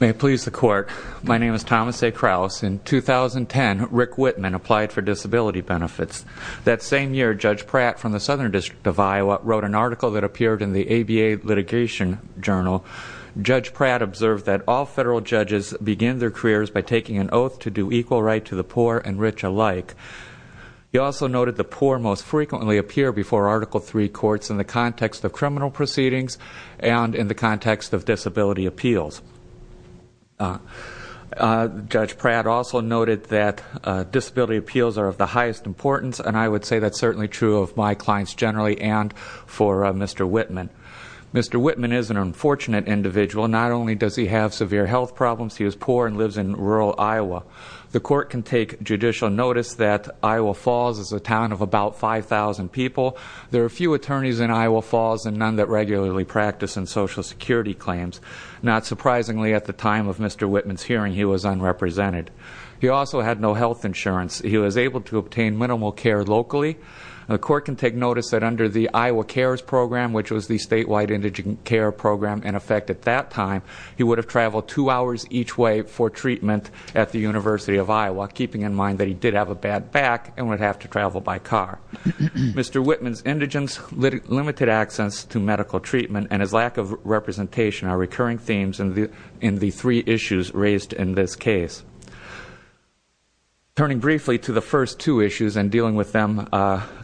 May it please the Court. My name is Thomas A. Krause. In 2010, Rick Whitman applied for disability benefits. That same year, Judge Pratt, from the Southern District of Iowa, wrote an article that appeared in the ABA Litigation Journal. Judge Pratt observed that all federal judges begin their careers by taking an oath to do equal right to the poor and rich alike. He also noted the poor most frequently appear before Article III courts in the context of criminal proceedings and in the context of disability appeals. Judge Pratt also noted that disability appeals are of the highest importance, and I would say that's certainly true of my clients generally and for Mr. Whitman. Mr. Whitman is an unfortunate individual. Not only does he have severe health problems, he is poor and lives in rural Iowa. The Court can take judicial notice that Iowa Falls is a town of about 5,000 people. There are few attorneys in Iowa Falls and none that regularly practice in Social Security claims. Not surprisingly, at the time of Mr. Whitman's hearing, he was unrepresented. He also had no health insurance. He was able to obtain minimal care locally. The Court can take notice that under the Iowa CARES program, which was the statewide indigent care program in effect at that time, he would have traveled two hours each way for treatment at the University of Iowa, keeping in mind that he did have a bad back and would have to travel by car. Mr. Whitman's indigent, limited access to medical treatment, and his lack of representation are recurring themes in the three issues raised in this case. Turning briefly to the first two issues and dealing with them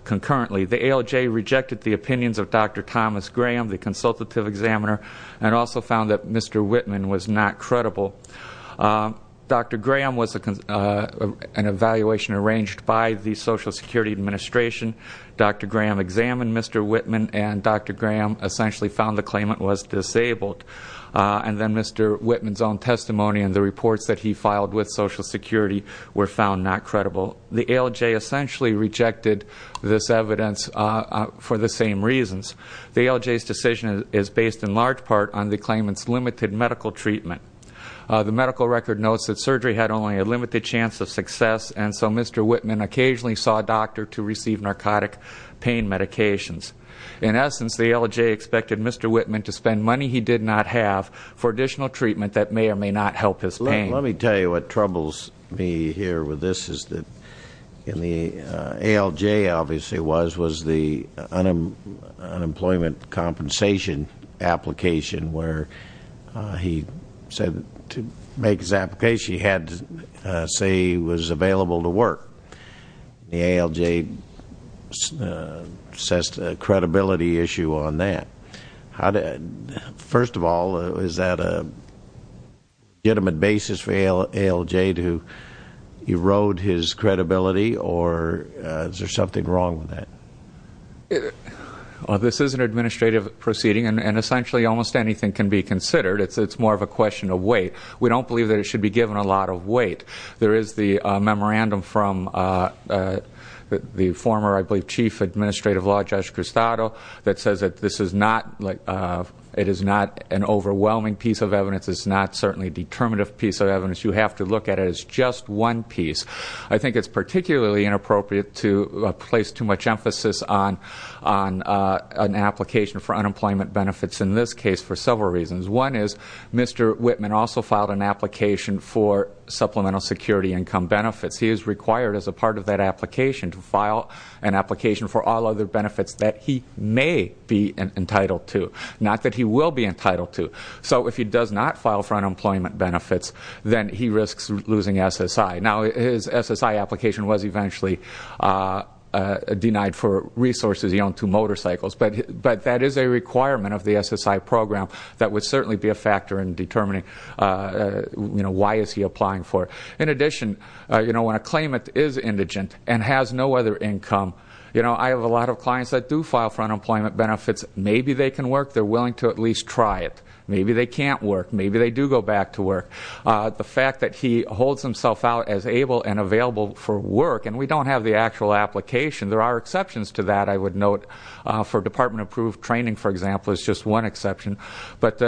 concurrently, the ALJ rejected the opinions of Dr. Thomas Graham, the consultative examiner, and also found that Mr. Whitman was not credible. Dr. Graham was an evaluation arranged by the Social Security Administration. Dr. Graham examined Mr. Whitman and Dr. Graham essentially found the claimant was disabled. And then Mr. Whitman's own testimony and the reports that he filed with Social Security were found not credible. The ALJ essentially rejected this evidence for the same reasons. The ALJ's decision is based in large part on the claimant's limited medical treatment. The medical record notes that surgery had only a limited chance of success and so Mr. Whitman occasionally saw a doctor to receive narcotic pain medications. In essence, the ALJ expected Mr. Whitman to spend money he did not have for additional treatment that may or may not help his pain. Let me tell you what troubles me here with this is that the ALJ obviously was the unemployment compensation application where he said to make his application he had to say he was available to work. The ALJ assessed a credibility issue on that. First of all, is that a legitimate basis for ALJ to erode his credibility or is there something wrong with that? This is an administrative proceeding and essentially almost anything can be considered. It's more of a question of weight. We don't believe that it should be given a lot of weight. There is the memorandum from the former, I believe, Chief Administrative Law Judge Cristado that says that this is not an overwhelming piece of evidence. It's not certainly a determinative piece of evidence. You have to look at it as just one piece. I think it's particularly inappropriate to place too much emphasis on an application for unemployment benefits in this case for several reasons. One is Mr. Whitman also filed an application for supplemental security income benefits. He is required as a part of that application to file an application for all other benefits that he may be entitled to, not that he will be entitled to. So if he does not file for unemployment benefits, then he risks losing SSI. Now, his SSI application was eventually denied for resources. He owned two motorcycles. But that is a requirement of the SSI program that would certainly be a factor in determining why is he applying for it. In addition, when a claimant is indigent and has no other income, I have a lot of clients that do file for unemployment benefits. Maybe they can work. They're willing to at least try it. Maybe they can't work. Maybe they do go back to work. The fact that he holds himself out as able and available for work, and we don't have the actual application. There are exceptions to that, I would note, for department-approved training, for example, is just one exception. But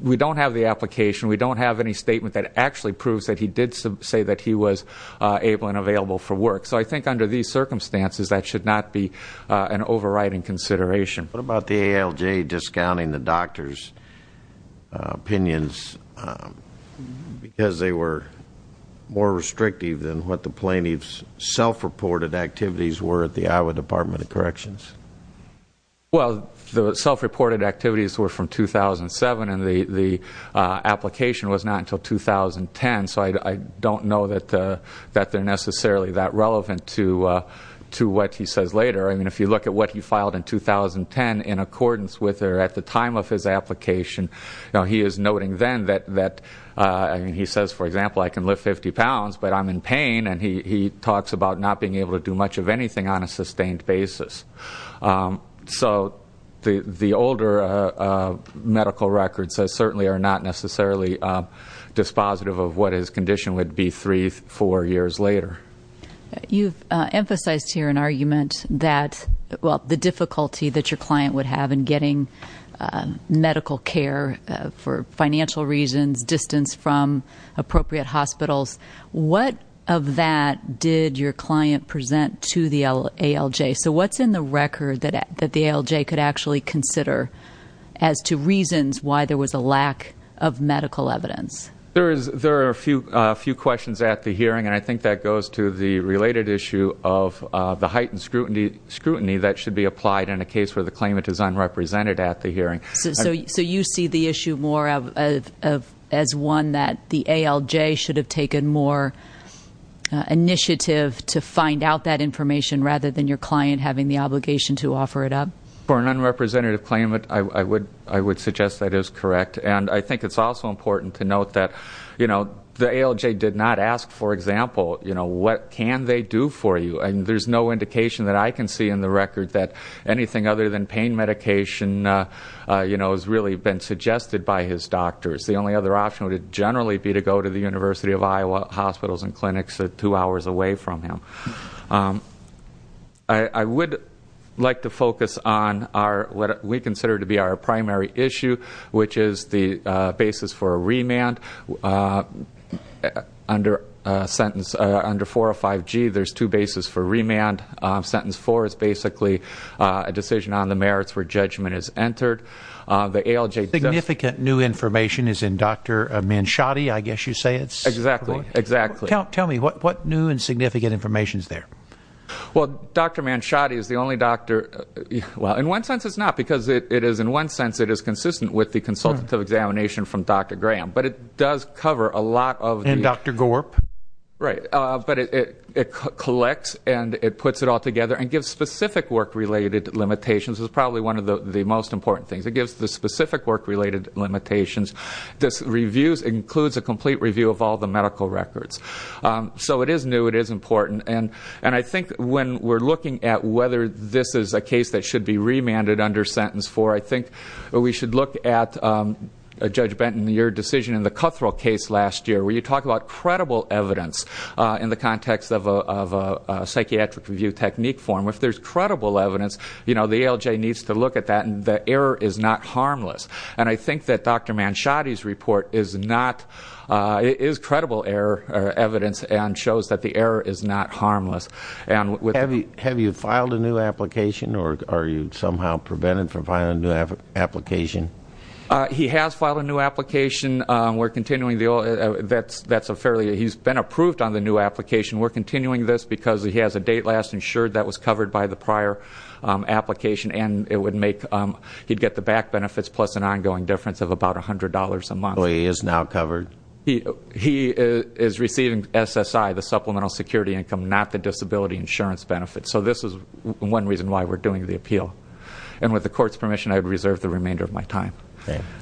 we don't have the application. We don't have any statement that actually proves that he did say that he was able and available for work. So I think under these circumstances, that should not be an overriding consideration. What about the ALJ discounting the doctor's opinions because they were more restrictive than what the plaintiff's self-reported activities were at the Iowa Department of Corrections? Well, the self-reported activities were from 2007, and the application was not until 2010. So I don't know that they're necessarily that relevant to what he says later. I mean, if you look at what he filed in 2010 in accordance with or at the time of his application, he is noting then that he says, for example, and he talks about not being able to do much of anything on a sustained basis. So the older medical records certainly are not necessarily dispositive of what his condition would be three, four years later. You've emphasized here an argument that, well, the difficulty that your client would have in getting medical care for financial reasons, distance from appropriate hospitals. What of that did your client present to the ALJ? So what's in the record that the ALJ could actually consider as to reasons why there was a lack of medical evidence? There are a few questions at the hearing, and I think that goes to the related issue of the heightened scrutiny that should be applied in a case where the claimant is unrepresented at the hearing. So you see the issue more as one that the ALJ should have taken more initiative to find out that information rather than your client having the obligation to offer it up? For an unrepresentative claimant, I would suggest that is correct. And I think it's also important to note that the ALJ did not ask, for example, what can they do for you? And there's no indication that I can see in the record that anything other than pain medication has really been suggested by his doctors. The only other option would generally be to go to the University of Iowa hospitals and clinics two hours away from him. I would like to focus on what we consider to be our primary issue, which is the basis for a remand. Sentence 4 is basically a decision on the merits where judgment is entered. The ALJ does... Significant new information is in Dr. Manshadi, I guess you say it's? Exactly. Tell me, what new and significant information is there? Well, Dr. Manshadi is the only doctor... Well, in one sense it's not, because in one sense it is consistent with the consultative examination from Dr. Graham. But it does cover a lot of... And Dr. Gorp. Right. But it collects and it puts it all together and gives specific work-related limitations. It's probably one of the most important things. It gives the specific work-related limitations. This includes a complete review of all the medical records. So it is new, it is important. And I think when we're looking at whether this is a case that should be remanded under sentence 4, I think we should look at, Judge Benton, your decision in the Cutthroat case last year where you talk about credible evidence in the context of a psychiatric review technique form. If there's credible evidence, the ALJ needs to look at that, and the error is not harmless. And I think that Dr. Manshadi's report is credible evidence and shows that the error is not harmless. Have you filed a new application, or are you somehow prevented from filing a new application? He has filed a new application. He's been approved on the new application. We're continuing this because he has a date last insured that was covered by the prior application, and he'd get the back benefits plus an ongoing difference of about $100 a month. So he is now covered? He is receiving SSI, the Supplemental Security Income, not the Disability Insurance Benefit. So this is one reason why we're doing the appeal. And with the Court's permission, I would reserve the remainder of my time.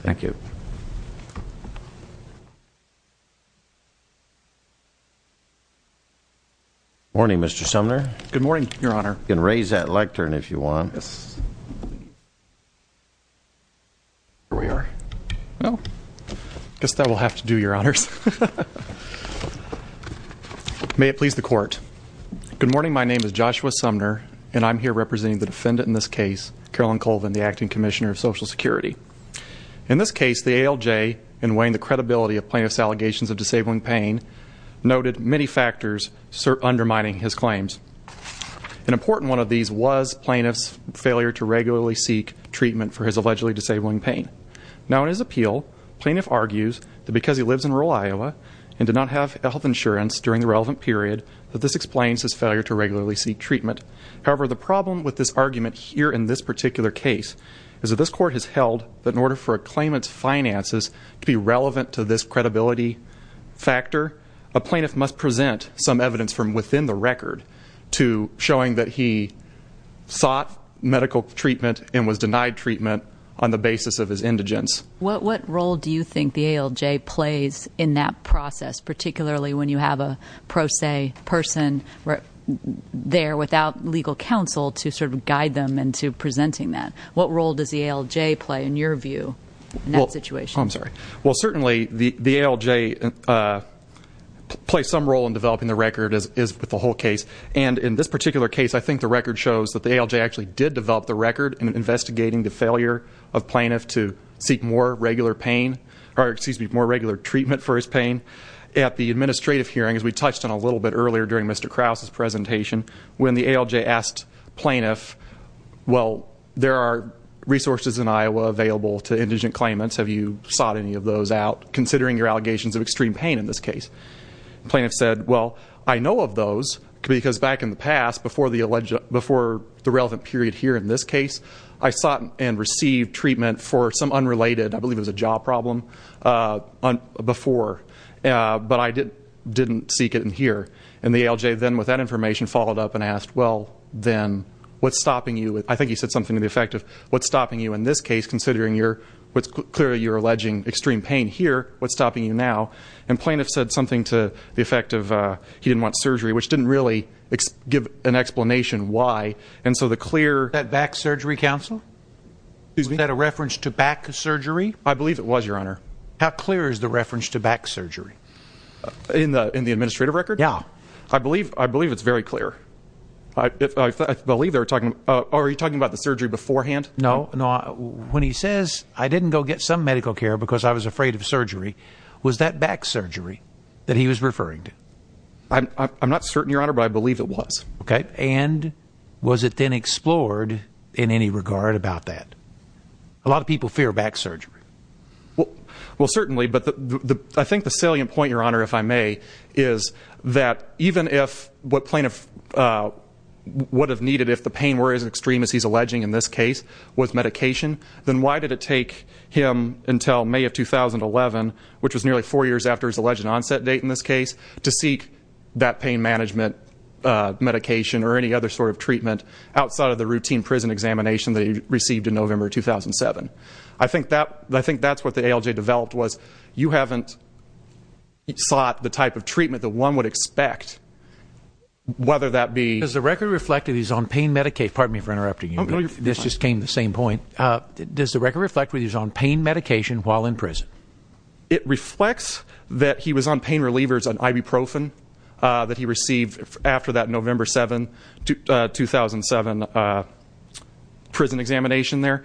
Thank you. Good morning, Mr. Sumner. Good morning, Your Honor. You can raise that lectern if you want. Yes. Here we are. I guess that will have to do, Your Honors. May it please the Court. Good morning. My name is Joshua Sumner, and I'm here representing the defendant in this case, Carolyn Colvin, the Acting Commissioner of Social Security. In this case, the ALJ, in weighing the credibility of plaintiff's allegations of disabling pain, noted many factors undermining his claims. An important one of these was plaintiff's failure to regularly seek treatment for his allegedly disabling pain. Now, in his appeal, plaintiff argues that because he lives in rural Iowa and did not have health insurance during the relevant period, that this explains his failure to regularly seek treatment. However, the problem with this argument here in this particular case is that this Court has held that in order for a claimant's finances to be relevant to this credibility factor, a plaintiff must present some evidence from within the record to showing that he sought medical treatment and was denied treatment on the basis of his indigence. What role do you think the ALJ plays in that process, particularly when you have a pro se person there without legal counsel to sort of guide them into presenting that? What role does the ALJ play, in your view, in that situation? I'm sorry. Well, certainly the ALJ plays some role in developing the record, as with the whole case. And in this particular case, I think the record shows that the ALJ actually did develop the record in investigating the failure of plaintiff to seek more regular pain, or excuse me, more regular treatment for his pain. At the administrative hearing, as we touched on a little bit earlier during Mr. Krause's presentation, when the ALJ asked plaintiff, well, there are resources in Iowa available to indigent claimants. Have you sought any of those out, considering your allegations of extreme pain in this case? Plaintiff said, well, I know of those, because back in the past, before the relevant period here in this case, I sought and received treatment for some unrelated, I believe it was a jaw problem, before. But I didn't seek it in here. And the ALJ then, with that information, followed up and asked, well, then, what's stopping you? I think he said something to the effect of, what's stopping you in this case, considering clearly you're alleging extreme pain here, what's stopping you now? And plaintiff said something to the effect of he didn't want surgery, which didn't really give an explanation why. And so the clear- Was that back surgery, counsel? Excuse me? Is that a reference to back surgery? I believe it was, Your Honor. How clear is the reference to back surgery? In the administrative record? Yeah. I believe it's very clear. I believe they were talking about the surgery beforehand. No. When he says, I didn't go get some medical care because I was afraid of surgery, was that back surgery that he was referring to? I'm not certain, Your Honor, but I believe it was. Okay. And was it then explored in any regard about that? A lot of people fear back surgery. Well, certainly, but I think the salient point, Your Honor, if I may, is that even if what plaintiff would have needed if the pain were as extreme as he's alleging in this case with medication, then why did it take him until May of 2011, which was nearly four years after his alleged onset date in this case, to seek that pain management medication or any other sort of treatment outside of the routine prison examination that he received in November 2007? I think that's what the ALJ developed was you haven't sought the type of treatment that one would expect, whether that be... Does the record reflect that he's on pain medication? Pardon me for interrupting you. No, you're fine. This just came to the same point. Does the record reflect that he's on pain medication while in prison? It reflects that he was on pain relievers and ibuprofen that he received after that November 2007 prison examination there.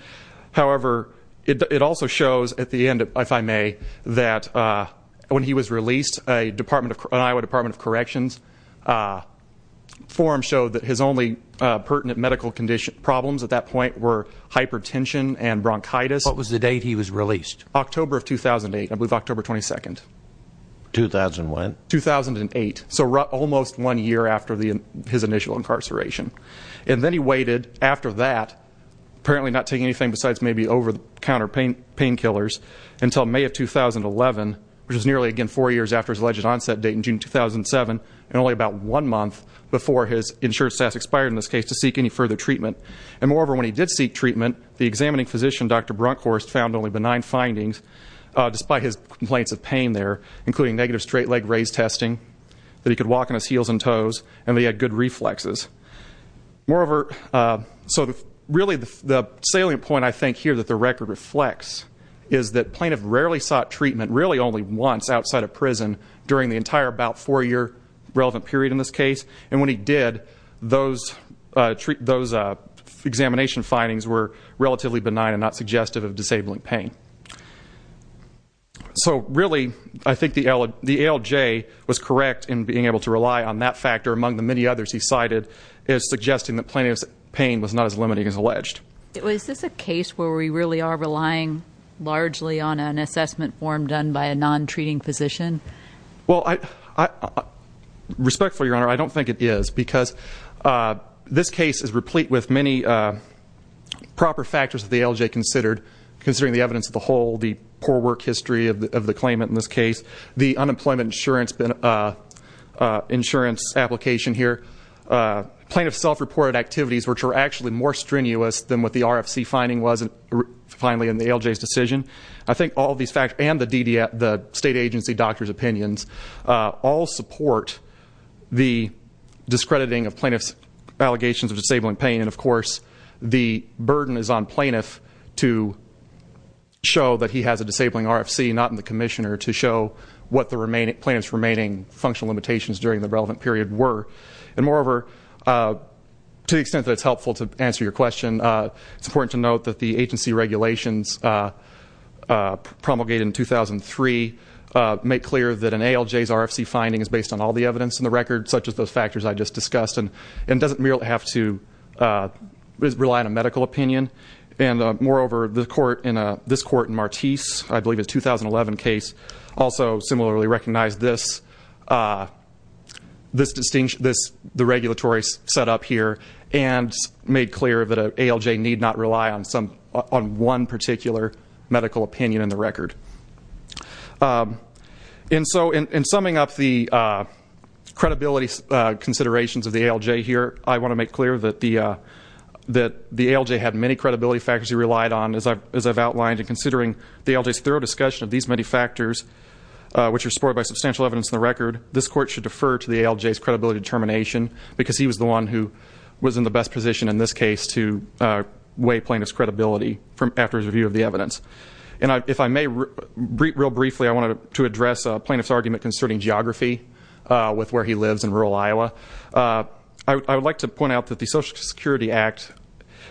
However, it also shows at the end, if I may, that when he was released, an Iowa Department of Corrections forum showed that his only pertinent medical problems at that point were hypertension and bronchitis. What was the date he was released? October of 2008, I believe October 22nd. 2001? 2008, so almost one year after his initial incarceration. And then he waited after that, apparently not taking anything besides maybe over-the-counter painkillers, until May of 2011, which was nearly again four years after his alleged onset date in June 2007, and only about one month before his insurance status expired in this case to seek any further treatment. And moreover, when he did seek treatment, the examining physician, Dr. Brunkhorst, found only benign findings, despite his complaints of pain there, including negative straight leg raise testing, that he could walk on his heels and toes, and that he had good reflexes. So really the salient point I think here that the record reflects is that plaintiff rarely sought treatment, really only once outside of prison during the entire about four-year relevant period in this case, and when he did, those examination findings were relatively benign and not suggestive of disabling pain. So really I think the ALJ was correct in being able to rely on that factor, among the many others he cited, as suggesting that plaintiff's pain was not as limiting as alleged. Is this a case where we really are relying largely on an assessment form done by a non-treating physician? Well, respectfully, Your Honor, I don't think it is, because this case is replete with many proper factors that the ALJ considered, considering the evidence of the whole, the poor work history of the claimant in this case, the unemployment insurance application here, plaintiff's self-reported activities, which were actually more strenuous than what the RFC finding was, finally, in the ALJ's decision. I think all these factors, and the state agency doctor's opinions, all support the discrediting of plaintiff's allegations of disabling pain, and, of course, the burden is on plaintiff to show that he has a disabling RFC, not on the commissioner to show what the plaintiff's remaining functional limitations during the relevant period were. And moreover, to the extent that it's helpful to answer your question, it's important to note that the agency regulations promulgated in 2003 make clear that an ALJ's RFC finding is based on all the evidence in the record, such as those factors I just discussed, and doesn't merely have to rely on a medical opinion. And moreover, this court in Martiz, I believe a 2011 case, also similarly recognized the regulatory setup here and made clear that an ALJ need not rely on one particular medical opinion in the record. And so, in summing up the credibility considerations of the ALJ here, I want to make clear that the ALJ had many credibility factors he relied on, as I've outlined, and considering the ALJ's thorough discussion of these many factors, which are supported by substantial evidence in the record, this court should defer to the ALJ's credibility determination, because he was the one who was in the best position in this case to weigh plaintiff's credibility after his review of the evidence. And if I may, real briefly, I wanted to address a plaintiff's argument concerning geography with where he lives in rural Iowa. I would like to point out that the Social Security Act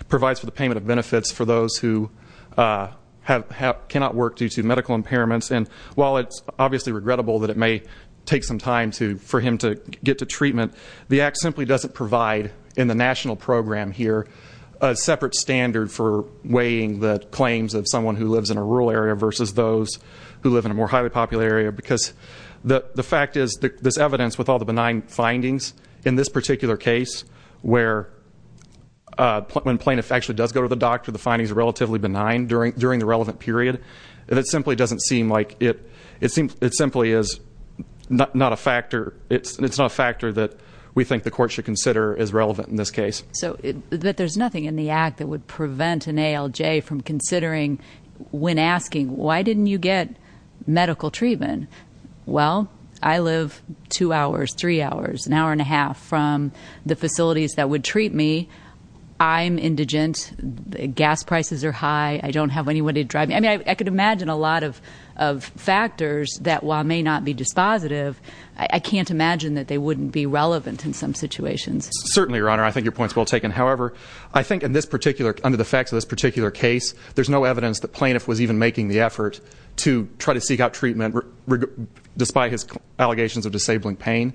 provides for the payment of benefits for those who cannot work due to medical impairments. And while it's obviously regrettable that it may take some time for him to get to treatment, the Act simply doesn't provide in the national program here a separate standard for weighing the claims of someone who lives in a rural area versus those who live in a more highly popular area. Because the fact is, this evidence with all the benign findings in this particular case, where when plaintiff actually does go to the doctor, the findings are relatively benign during the relevant period, it simply is not a factor that we think the court should consider as relevant in this case. But there's nothing in the Act that would prevent an ALJ from considering when asking, why didn't you get medical treatment? Well, I live two hours, three hours, an hour and a half from the facilities that would treat me. I'm indigent. Gas prices are high. I don't have anyone to drive me. I mean, I could imagine a lot of factors that while may not be dispositive, I can't imagine that they wouldn't be relevant in some situations. Certainly, Your Honor. I think your point's well taken. However, I think under the facts of this particular case, there's no evidence that plaintiff was even making the effort to try to seek out treatment despite his allegations of disabling pain.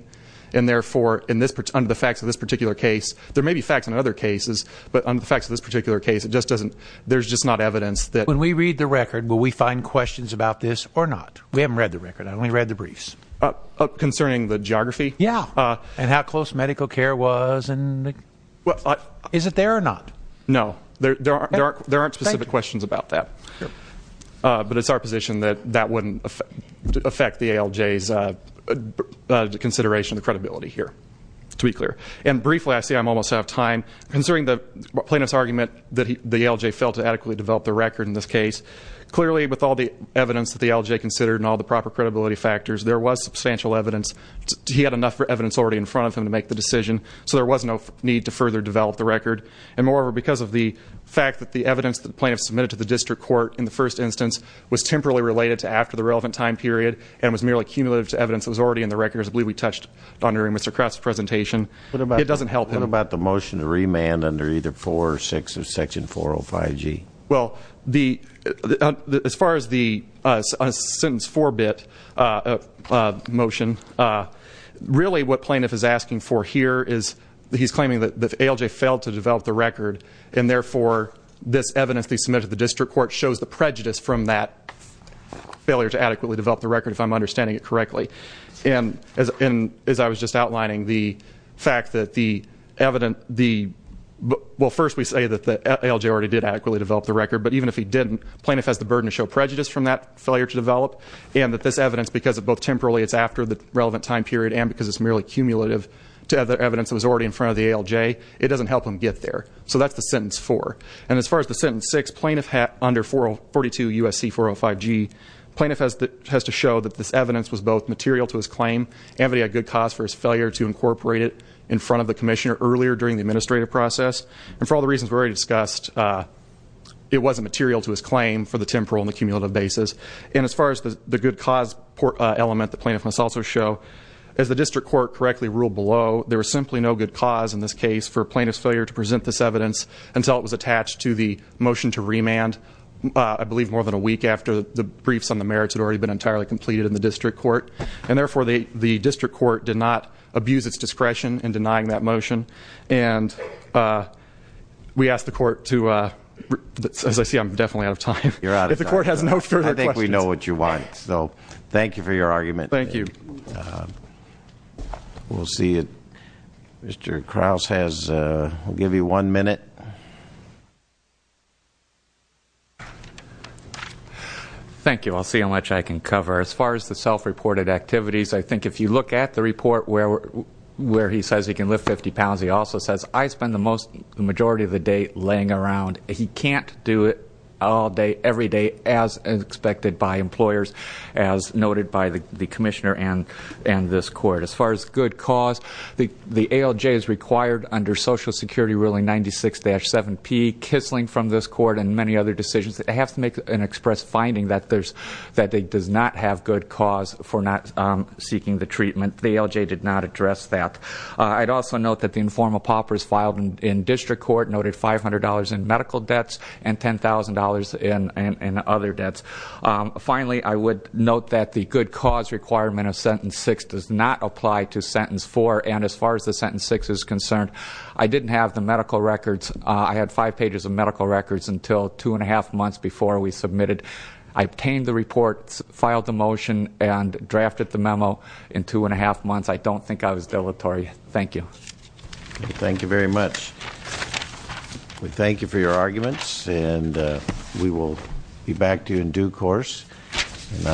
And therefore, under the facts of this particular case, there may be facts in other cases, but under the facts of this particular case, there's just not evidence that. When we read the record, will we find questions about this or not? We haven't read the record. I only read the briefs. Concerning the geography? Yeah. And how close medical care was? Is it there or not? No. There aren't specific questions about that. But it's our position that that wouldn't affect the ALJ's consideration of credibility here, to be clear. And briefly, I see I'm almost out of time. Considering the plaintiff's argument that the ALJ failed to adequately develop the record in this case, clearly with all the evidence that the ALJ considered and all the proper credibility factors, there was substantial evidence. He had enough evidence already in front of him to make the decision, so there was no need to further develop the record. And moreover, because of the fact that the evidence that the plaintiff submitted to the district court in the first instance was temporarily related to after the relevant time period and was merely cumulative to evidence that was already in the record, as I believe we touched on during Mr. Kraft's presentation, it doesn't help him. What about the motion to remand under either 4 or 6 of Section 405G? Well, as far as the sentence forbit motion, really what plaintiff is asking for here is he's claiming that the ALJ failed to develop the record, and therefore this evidence they submitted to the district court shows the prejudice from that failure to adequately develop the record, if I'm understanding it correctly. And as I was just outlining, the fact that the evidence, well, first we say that the ALJ already did adequately develop the record, but even if he didn't, plaintiff has the burden to show prejudice from that failure to develop, and that this evidence, because both temporarily it's after the relevant time period and because it's merely cumulative to evidence that was already in front of the ALJ, it doesn't help him get there. So that's the sentence 4. And as far as the sentence 6, plaintiff had under 442 U.S.C. 405G, plaintiff has to show that this evidence was both material to his claim and that he had good cause for his failure to incorporate it in front of the commissioner earlier during the administrative process. And for all the reasons we already discussed, it wasn't material to his claim for the temporal and the cumulative basis. And as far as the good cause element, the plaintiff must also show, as the district court correctly ruled below, there was simply no good cause in this case for plaintiff's failure to present this evidence until it was attached to the motion to remand, I believe, more than a week after the briefs on the merits had already been entirely completed in the district court. And, therefore, the district court did not abuse its discretion in denying that motion. And we ask the court to, as I see, I'm definitely out of time. If the court has no further questions. I think we know what you want. So thank you for your argument. Thank you. We'll see. Mr. Krause has, we'll give you one minute. Thank you. I'll see how much I can cover. As far as the self-reported activities, I think if you look at the report where he says he can lift 50 pounds, he also says, I spend the majority of the day laying around. He can't do it all day, every day, as expected by employers, as noted by the commissioner and this court. As far as good cause, the ALJ is required under Social Security Ruling 96-7P, kissling from this court and many other decisions that have to make an express finding that it does not have good cause for not seeking the treatment. The ALJ did not address that. I'd also note that the informal paupers filed in district court noted $500 in medical debts and $10,000 in other debts. Finally, I would note that the good cause requirement of Sentence 6 does not apply to Sentence 4, and as far as the Sentence 6 is concerned, I didn't have the medical records. I had five pages of medical records until two-and-a-half months before we submitted. I obtained the report, filed the motion, and drafted the memo in two-and-a-half months. I don't think I was deleterious. Thank you. Thank you very much. We thank you for your arguments, and we will be back to you in due course.